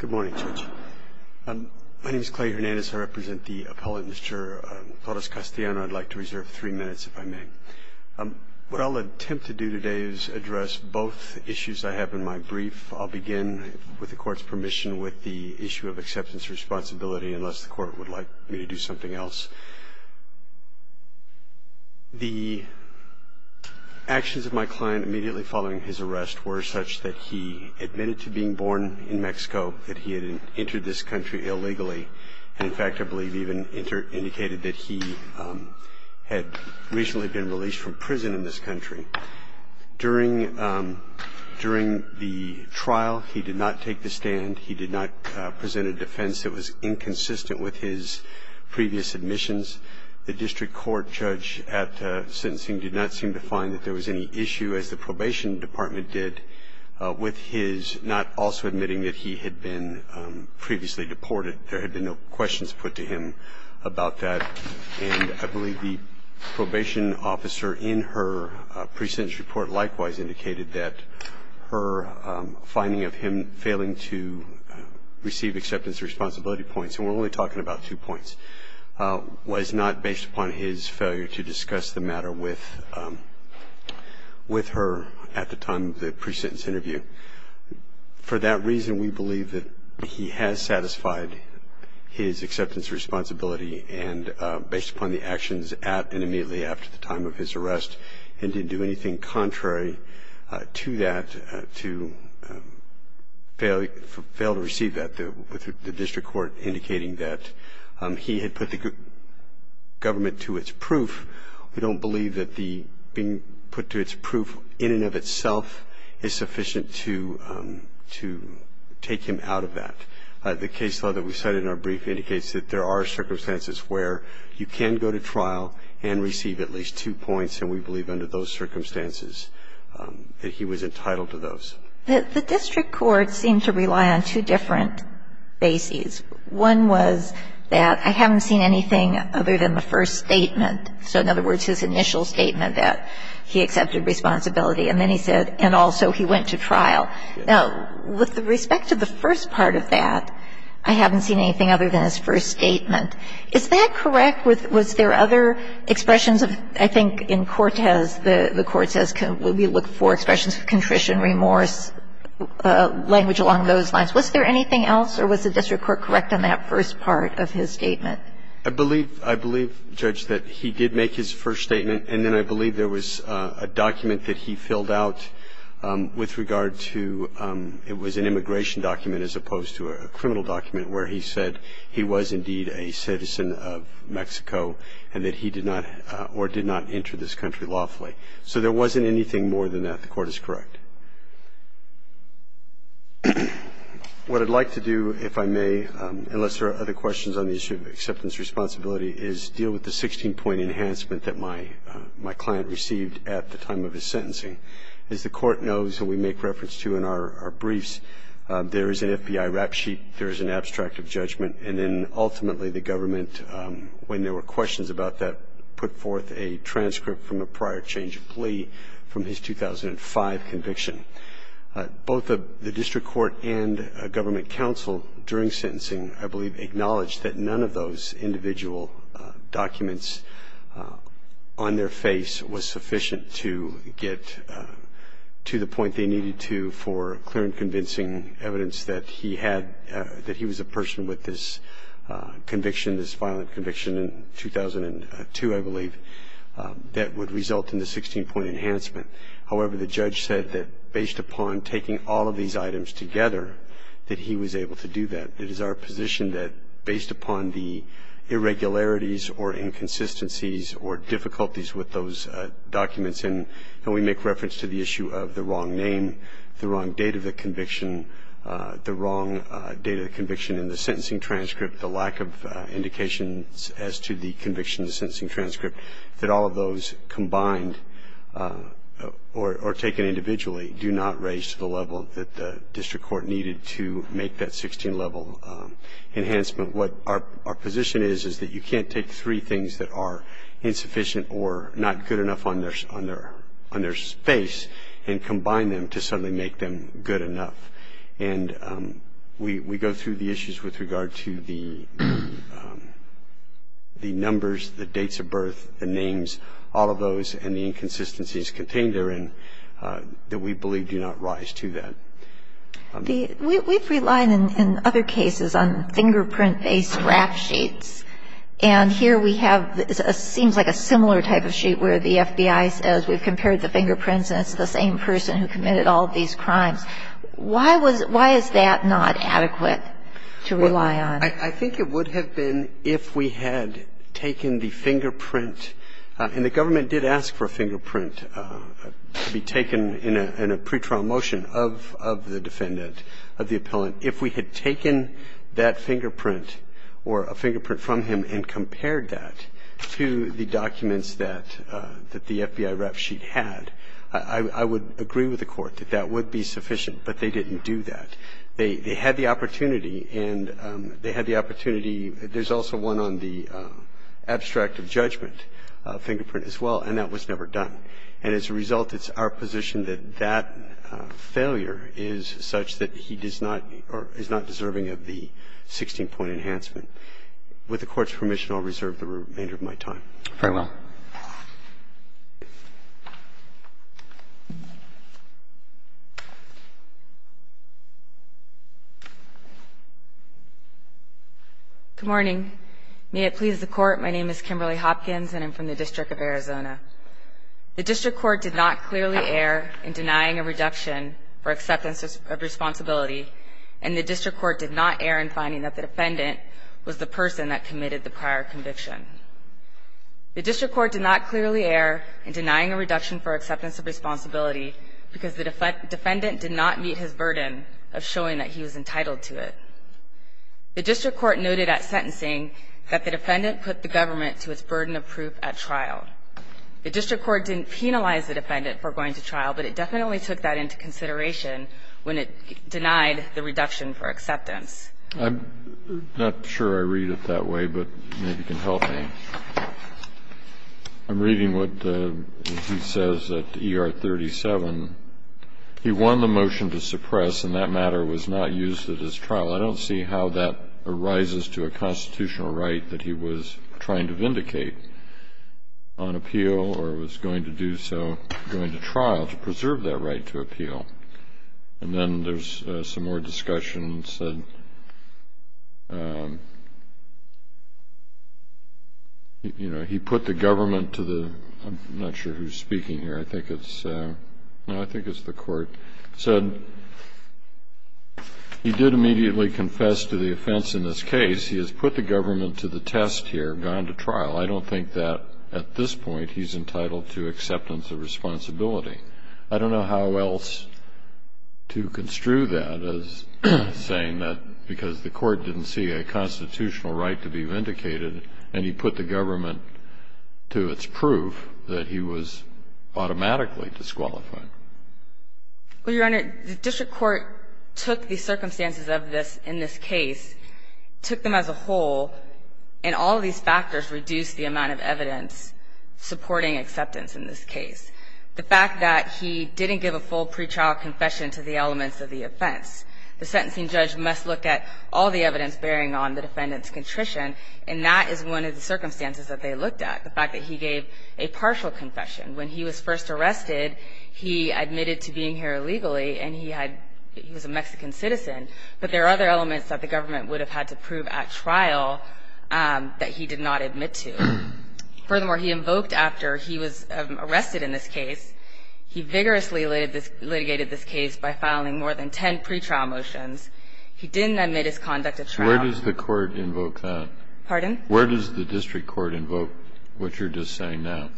Good morning, Judge. My name is Clay Hernandez. I represent the appellate, Mr. Torres-Castelano. I'd like to reserve three minutes, if I may. What I'll attempt to do today is address both issues I have in my brief. I'll begin, with the Court's permission, with the issue of acceptance responsibility, unless the Court would like me to do something else. The actions of my client immediately following his arrest were such that he admitted to being born in Mexico, that he had entered this country illegally, and in fact, I believe, even indicated that he had recently been released from prison in this country. During the trial, he did not take the stand. He did not present a defense that was inconsistent with his previous admissions. The district court judge at sentencing did not seem to find that there was any issue, as the probation department did, with his not also admitting that he had been previously deported. There had been no questions put to him about that. And I believe the probation officer in her pre-sentence report likewise indicated that her finding of him failing to receive acceptance responsibility points, and we're only talking about two points, was not based upon his failure to discuss the matter with her at the time of the pre-sentence interview. For that reason, we believe that he has satisfied his acceptance responsibility and based upon the actions at and immediately after the time of his arrest, and didn't do anything contrary to that, to fail to receive that, with the district court indicating that he had put the government to its proof. We don't believe that being put to its proof in and of itself is sufficient to take him out of that. The case law that we cited in our brief indicates that there are circumstances where you can go to trial and receive at least two points, and we believe under those circumstances that he was entitled to those. The district court seemed to rely on two different bases. One was that I haven't seen anything other than the first statement. So, in other words, his initial statement that he accepted responsibility, and then he said, and also he went to trial. Now, with respect to the first part of that, I haven't seen anything other than his first statement. Is that correct? Was there other expressions of, I think in Cortez, the court says we look for expressions of contrition, remorse, language along those lines. Was there anything else, or was the district court correct on that first part of his statement? I believe, Judge, that he did make his first statement, and then I believe there was a document that he filled out with regard to, it was an immigration document as opposed to a criminal document where he said he was indeed a citizen of Mexico and that he did not, or did not enter this country lawfully. So there wasn't anything more than that. The court is correct. What I'd like to do, if I may, unless there are other questions on the issue of acceptance responsibility, is deal with the 16-point enhancement that my client received at the time of his sentencing. As the court knows, and we make reference to in our briefs, there is an FBI rap sheet, there is an abstract of judgment, and then ultimately the government, when there were questions about that, put forth a transcript from a prior change of plea from his 2005 conviction. Both the district court and government counsel during sentencing, I believe, acknowledged that none of those individual documents on their face was sufficient to get to the point they needed to for clear and convincing evidence that he had, that he was a person with this conviction, this violent conviction in 2002, I believe, that would result in the 16-point enhancement. However, the judge said that based upon taking all of these items together, that he was able to do that. It is our position that based upon the irregularities or inconsistencies or difficulties with those documents, and we make reference to the issue of the wrong name, the wrong date of the conviction, the wrong date of the conviction in the sentencing transcript, the lack of indications as to the conviction in the sentencing transcript, that all of those combined or taken individually do not raise to the level that the district court needed to make that 16-level enhancement. What our position is is that you can't take three things that are insufficient or not good enough on their face and combine them to suddenly make them good enough. And we go through the issues with regard to the numbers, the dates of birth, the names, all of those, and the inconsistencies contained therein that we believe do not rise to that. We've relied in other cases on fingerprint-based rap sheets. And here we have what seems like a similar type of sheet where the FBI says we've compared the fingerprints and it's the same person who committed all of these crimes. Why is that not adequate to rely on? I think it would have been if we had taken the fingerprint, and the government did ask for a fingerprint to be taken in a pretrial motion of the defendant, of the appellant. If we had taken that fingerprint or a fingerprint from him and compared that to the documents that the FBI rap sheet had, I would agree with the Court that that would be sufficient. But they didn't do that. They had the opportunity and they had the opportunity. There's also one on the abstract of judgment fingerprint as well, and that was never done. And as a result, it's our position that that failure is such that he does not or is not deserving of the 16-point enhancement. With the Court's permission, I'll reserve the remainder of my time. Very well. Good morning. May it please the Court, my name is Kimberly Hopkins and I'm from the District of Arizona. The District Court did not clearly err in denying a reduction for acceptance of responsibility, and the District Court did not err in finding that the defendant was the person that committed the prior conviction. The District Court did not clearly err in denying a reduction for acceptance of responsibility because the defendant did not meet his burden of showing that he was entitled to it. The District Court noted at sentencing that the defendant put the government to its burden of proof at trial. The District Court didn't penalize the defendant for going to trial, but it definitely took that into consideration when it denied the reduction for acceptance. I'm not sure I read it that way, but maybe you can help me. I'm reading what he says at ER 37. He won the motion to suppress, and that matter was not used at his trial. I don't see how that arises to a constitutional right that he was trying to vindicate on appeal or was going to do so going to trial to preserve that right to appeal. And then there's some more discussion. He put the government to the, I'm not sure who's speaking here. I think it's, no, I think it's the court. He did immediately confess to the offense in this case. He has put the government to the test here, gone to trial. I don't think that at this point he's entitled to acceptance of responsibility. I don't know how else to construe that as saying that because the court didn't see a constitutional right to be vindicated, and he put the government to its proof that he was automatically disqualified. Well, Your Honor, the District Court took the circumstances of this in this case, took them as a whole, and all these factors reduced the amount of evidence supporting acceptance in this case. The fact that he didn't give a full pretrial confession to the elements of the offense. The sentencing judge must look at all the evidence bearing on the defendant's contrition, and that is one of the circumstances that they looked at, the fact that he gave a partial confession. When he was first arrested, he admitted to being here illegally, and he had, he was a Mexican citizen. But there are other elements that the government would have had to prove at trial that he did not admit to. Furthermore, he invoked after he was arrested in this case, he vigorously litigated this case by filing more than ten pretrial motions. He didn't admit his conduct at trial. Where does the court invoke that? Pardon? Where does the District Court invoke what you're just saying now?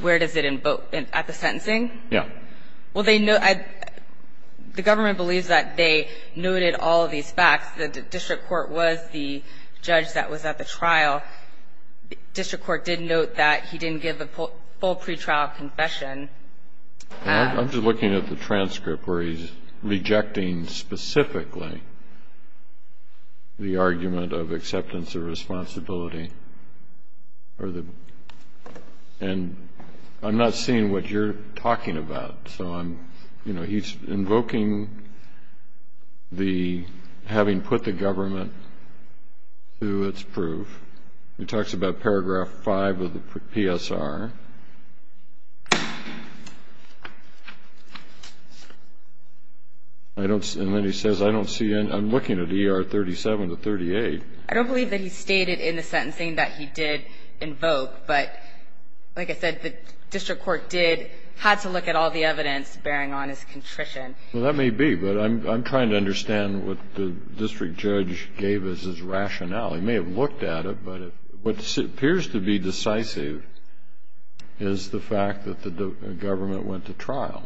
Where does it invoke? At the sentencing? Yes. Well, they know, the government believes that they noted all of these facts. The District Court was the judge that was at the trial. District Court did note that he didn't give a full pretrial confession. I'm just looking at the transcript where he's rejecting specifically the argument of acceptance of responsibility. And I'm not seeing what you're talking about. So I'm, you know, he's invoking the having put the government to its proof. He talks about paragraph 5 of the PSR. And then he says, I don't see any, I'm looking at ER 37 to 38. I don't believe that he stated in the sentencing that he did invoke. But, like I said, the District Court did, had to look at all the evidence bearing on his contrition. Well, that may be, but I'm trying to understand what the district judge gave as his rationale. He may have looked at it, but what appears to be decisive is the fact that the government went to trial.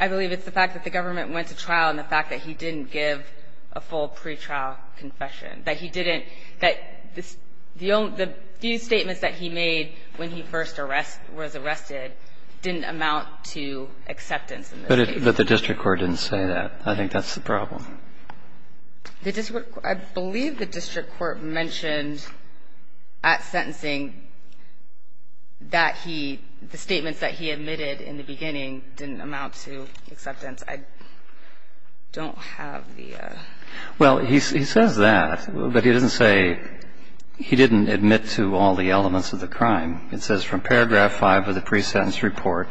I believe it's the fact that the government went to trial and the fact that he didn't give a full pretrial confession, that he didn't, that the few statements that he made when he first arrest, was arrested, didn't amount to acceptance in this case. But the district court didn't say that. I think that's the problem. The district, I believe the district court mentioned at sentencing that he, the statements that he admitted in the beginning didn't amount to acceptance. I don't have the. Well, he says that, but he doesn't say he didn't admit to all the elements of the crime. It says from paragraph 5 of the pre-sentence report,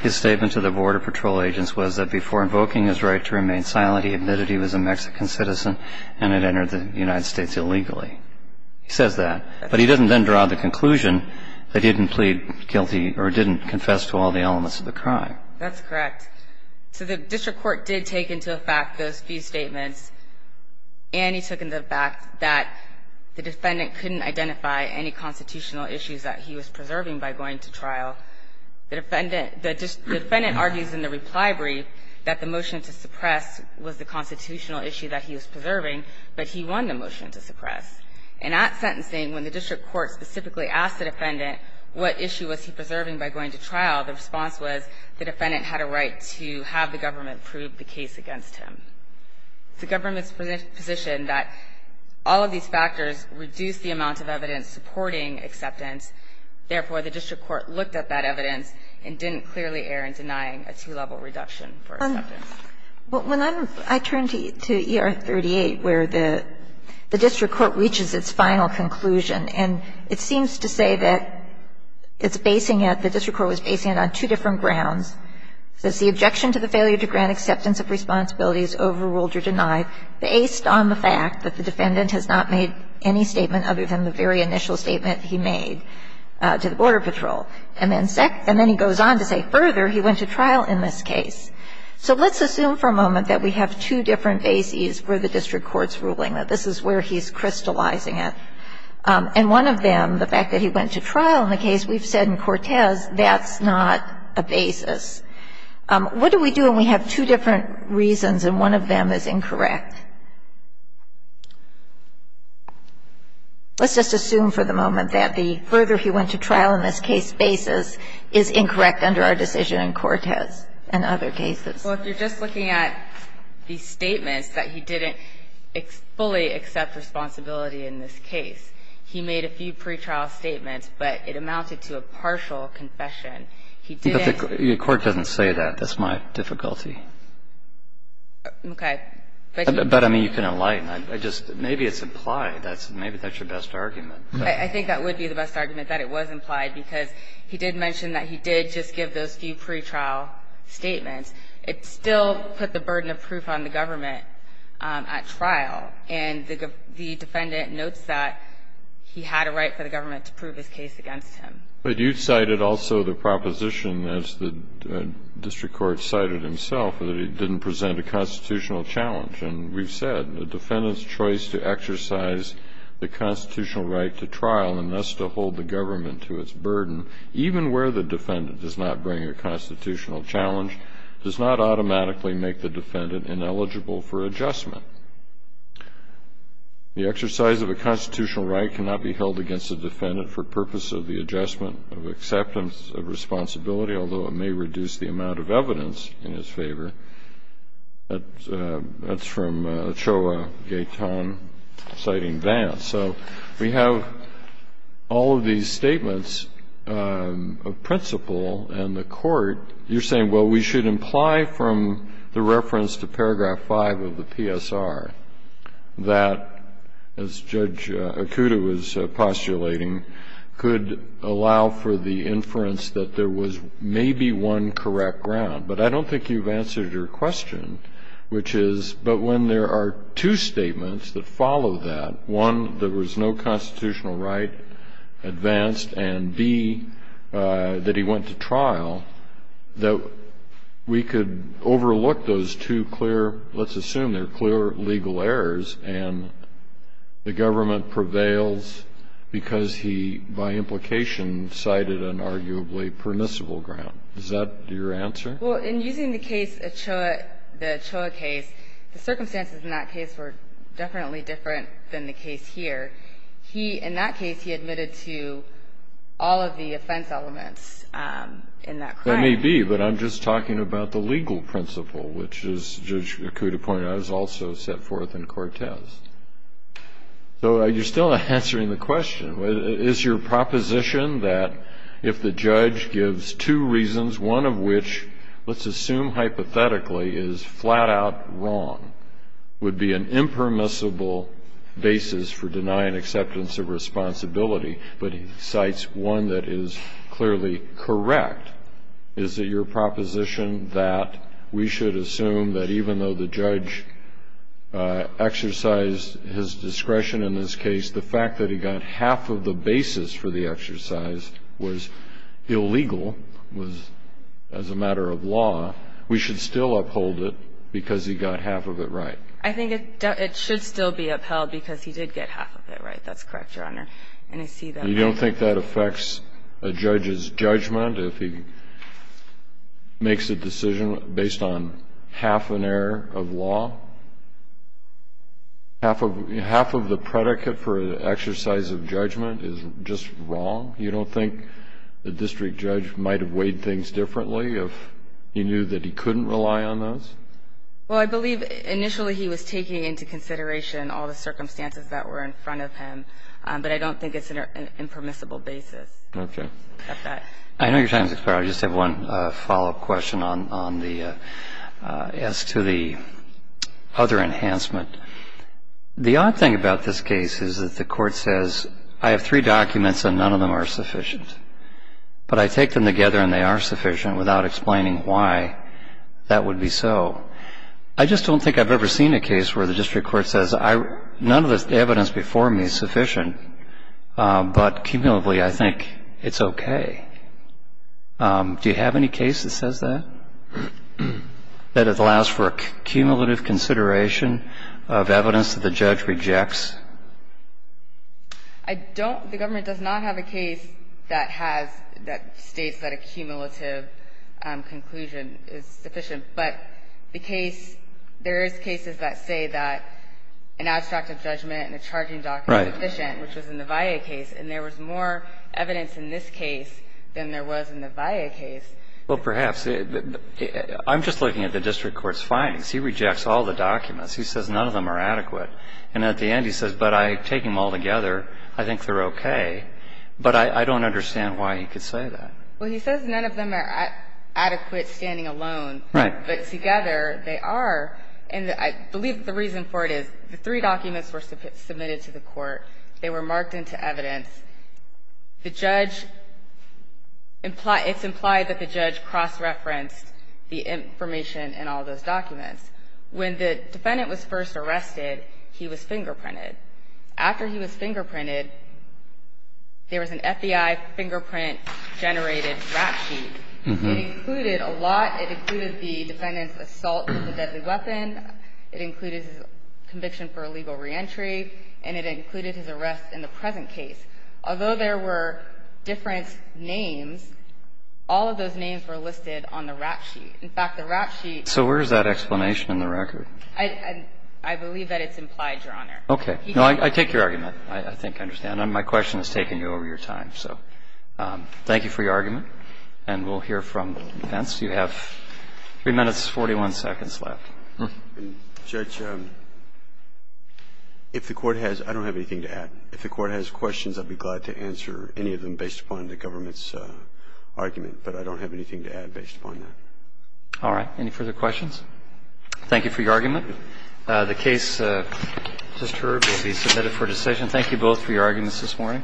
his statement to the border patrol agents was that before invoking his right to remain silent, he admitted he was a Mexican citizen and had entered the United States illegally. He says that. But he doesn't then draw the conclusion that he didn't plead guilty or didn't confess to all the elements of the crime. That's correct. So the district court did take into effect those few statements, and he took into effect that the defendant couldn't identify any constitutional issues that he was preserving by going to trial. The defendant, the defendant argues in the reply brief that the motion to suppress was the constitutional issue that he was preserving, but he won the motion to suppress. And at sentencing, when the district court specifically asked the defendant what issue was he preserving by going to trial, the response was the defendant had a right to have the government prove the case against him. The government's position that all of these factors reduce the amount of evidence supporting acceptance. Therefore, the district court looked at that evidence and didn't clearly err in denying a two-level reduction for acceptance. But when I turn to ER-38 where the district court reaches its final conclusion and it seems to say that it's basing it, the district court was basing it on two different grounds. It says the objection to the failure to grant acceptance of responsibility is overruled or denied based on the fact that the defendant has not made any statement other than the very initial statement he made to the Border Patrol. And then he goes on to say, further, he went to trial in this case. So let's assume for a moment that we have two different bases where the district court's ruling. That this is where he's crystallizing it. And one of them, the fact that he went to trial in the case, we've said in Cortez that's not a basis. What do we do when we have two different reasons and one of them is incorrect? Let's just assume for the moment that the further he went to trial in this case basis is incorrect under our decision in Cortez and other cases. Well, if you're just looking at the statements that he didn't fully accept responsibility in this case, he made a few pretrial statements, but it amounted to a partial confession. He didn't. But the court doesn't say that. That's my difficulty. Okay. But I mean, you can enlighten. I just, maybe it's implied. Maybe that's your best argument. I think that would be the best argument, that it was implied, because he did mention that he did just give those few pretrial statements. It still put the burden of proof on the government at trial. And the defendant notes that he had a right for the government to prove his case against him. But you cited also the proposition, as the district court cited himself, that it didn't present a constitutional challenge. And we've said the defendant's choice to exercise the constitutional right to trial and thus to hold the government to its burden. Even where the defendant does not bring a constitutional challenge, does not automatically make the defendant ineligible for adjustment. The exercise of a constitutional right cannot be held against a defendant for purpose of the adjustment of acceptance of responsibility, although it may reduce the amount of evidence in his favor. That's from Choa Gaytan, citing Vance. So we have all of these statements of principle, and the Court, you're saying, well, we should imply from the reference to paragraph 5 of the PSR that, as Judge Akuta was postulating, could allow for the inference that there was maybe one correct ground. But I don't think you've answered your question, which is, but when there are two statements that follow that, one, there was no constitutional right advanced, and, B, that he went to trial, that we could overlook those two clear, let's assume they're clear, legal errors, and the government prevails because he, by implication, cited an arguably permissible ground. Is that your answer? Well, in using the case, the Choa case, the circumstances in that case were definitely different than the case here. He, in that case, he admitted to all of the offense elements in that crime. That may be, but I'm just talking about the legal principle, which, as Judge Akuta pointed out, is also set forth in Cortez. So you're still not answering the question. Is your proposition that if the judge gives two reasons, one of which, let's assume hypothetically, is flat-out wrong, would be an impermissible basis for denying acceptance of responsibility, but he cites one that is clearly correct, is it your proposition that we should assume that even though the judge exercised his discretion in this case, even though half of the basis for the exercise was illegal, was as a matter of law, we should still uphold it because he got half of it right? I think it should still be upheld because he did get half of it right. That's correct, Your Honor. And I see that. You don't think that affects a judge's judgment if he makes a decision based on half an error of law? Half of the predicate for an exercise of judgment is just wrong? You don't think the district judge might have weighed things differently if he knew that he couldn't rely on those? Well, I believe initially he was taking into consideration all the circumstances that were in front of him, but I don't think it's an impermissible basis. Okay. I know you're trying to explore. I just have one follow-up question on the other enhancement. The odd thing about this case is that the court says I have three documents and none of them are sufficient, but I take them together and they are sufficient without explaining why that would be so. I just don't think I've ever seen a case where the district court says none of the I don't think the government does not have a case that has, that states that a cumulative conclusion is sufficient. But the case, there is cases that say that an abstract of judgment and a charging document is sufficient, which was in the VIA case, and there was more evidence And I don't think that's true. case than there was in the VIA case. Well, perhaps. I'm just looking at the district court's findings. He rejects all the documents. He says none of them are adequate. And at the end he says, but I take them all together, I think they're okay. But I don't understand why he could say that. Well, he says none of them are adequate standing alone. Right. But together they are. And I believe the reason for it is the three documents were submitted to the court. They were marked into evidence. The judge, it's implied that the judge cross-referenced the information in all those documents. When the defendant was first arrested, he was fingerprinted. After he was fingerprinted, there was an FBI fingerprint generated rap sheet. It included a lot. It included the defendant's assault with a deadly weapon. It included his conviction for illegal reentry. And it included his arrest in the present case. Although there were different names, all of those names were listed on the rap sheet. In fact, the rap sheet ---- So where is that explanation in the record? I believe that it's implied, Your Honor. Okay. No, I take your argument. I think I understand. My question is taking you over your time. So thank you for your argument. And we'll hear from the defense. You have three minutes, 41 seconds left. Judge, if the Court has ---- I don't have anything to add. If the Court has questions, I'd be glad to answer any of them based upon the government's argument. But I don't have anything to add based upon that. All right. Any further questions? Thank you for your argument. The case, Mr. Herb, will be submitted for decision. Thank you both for your arguments this morning.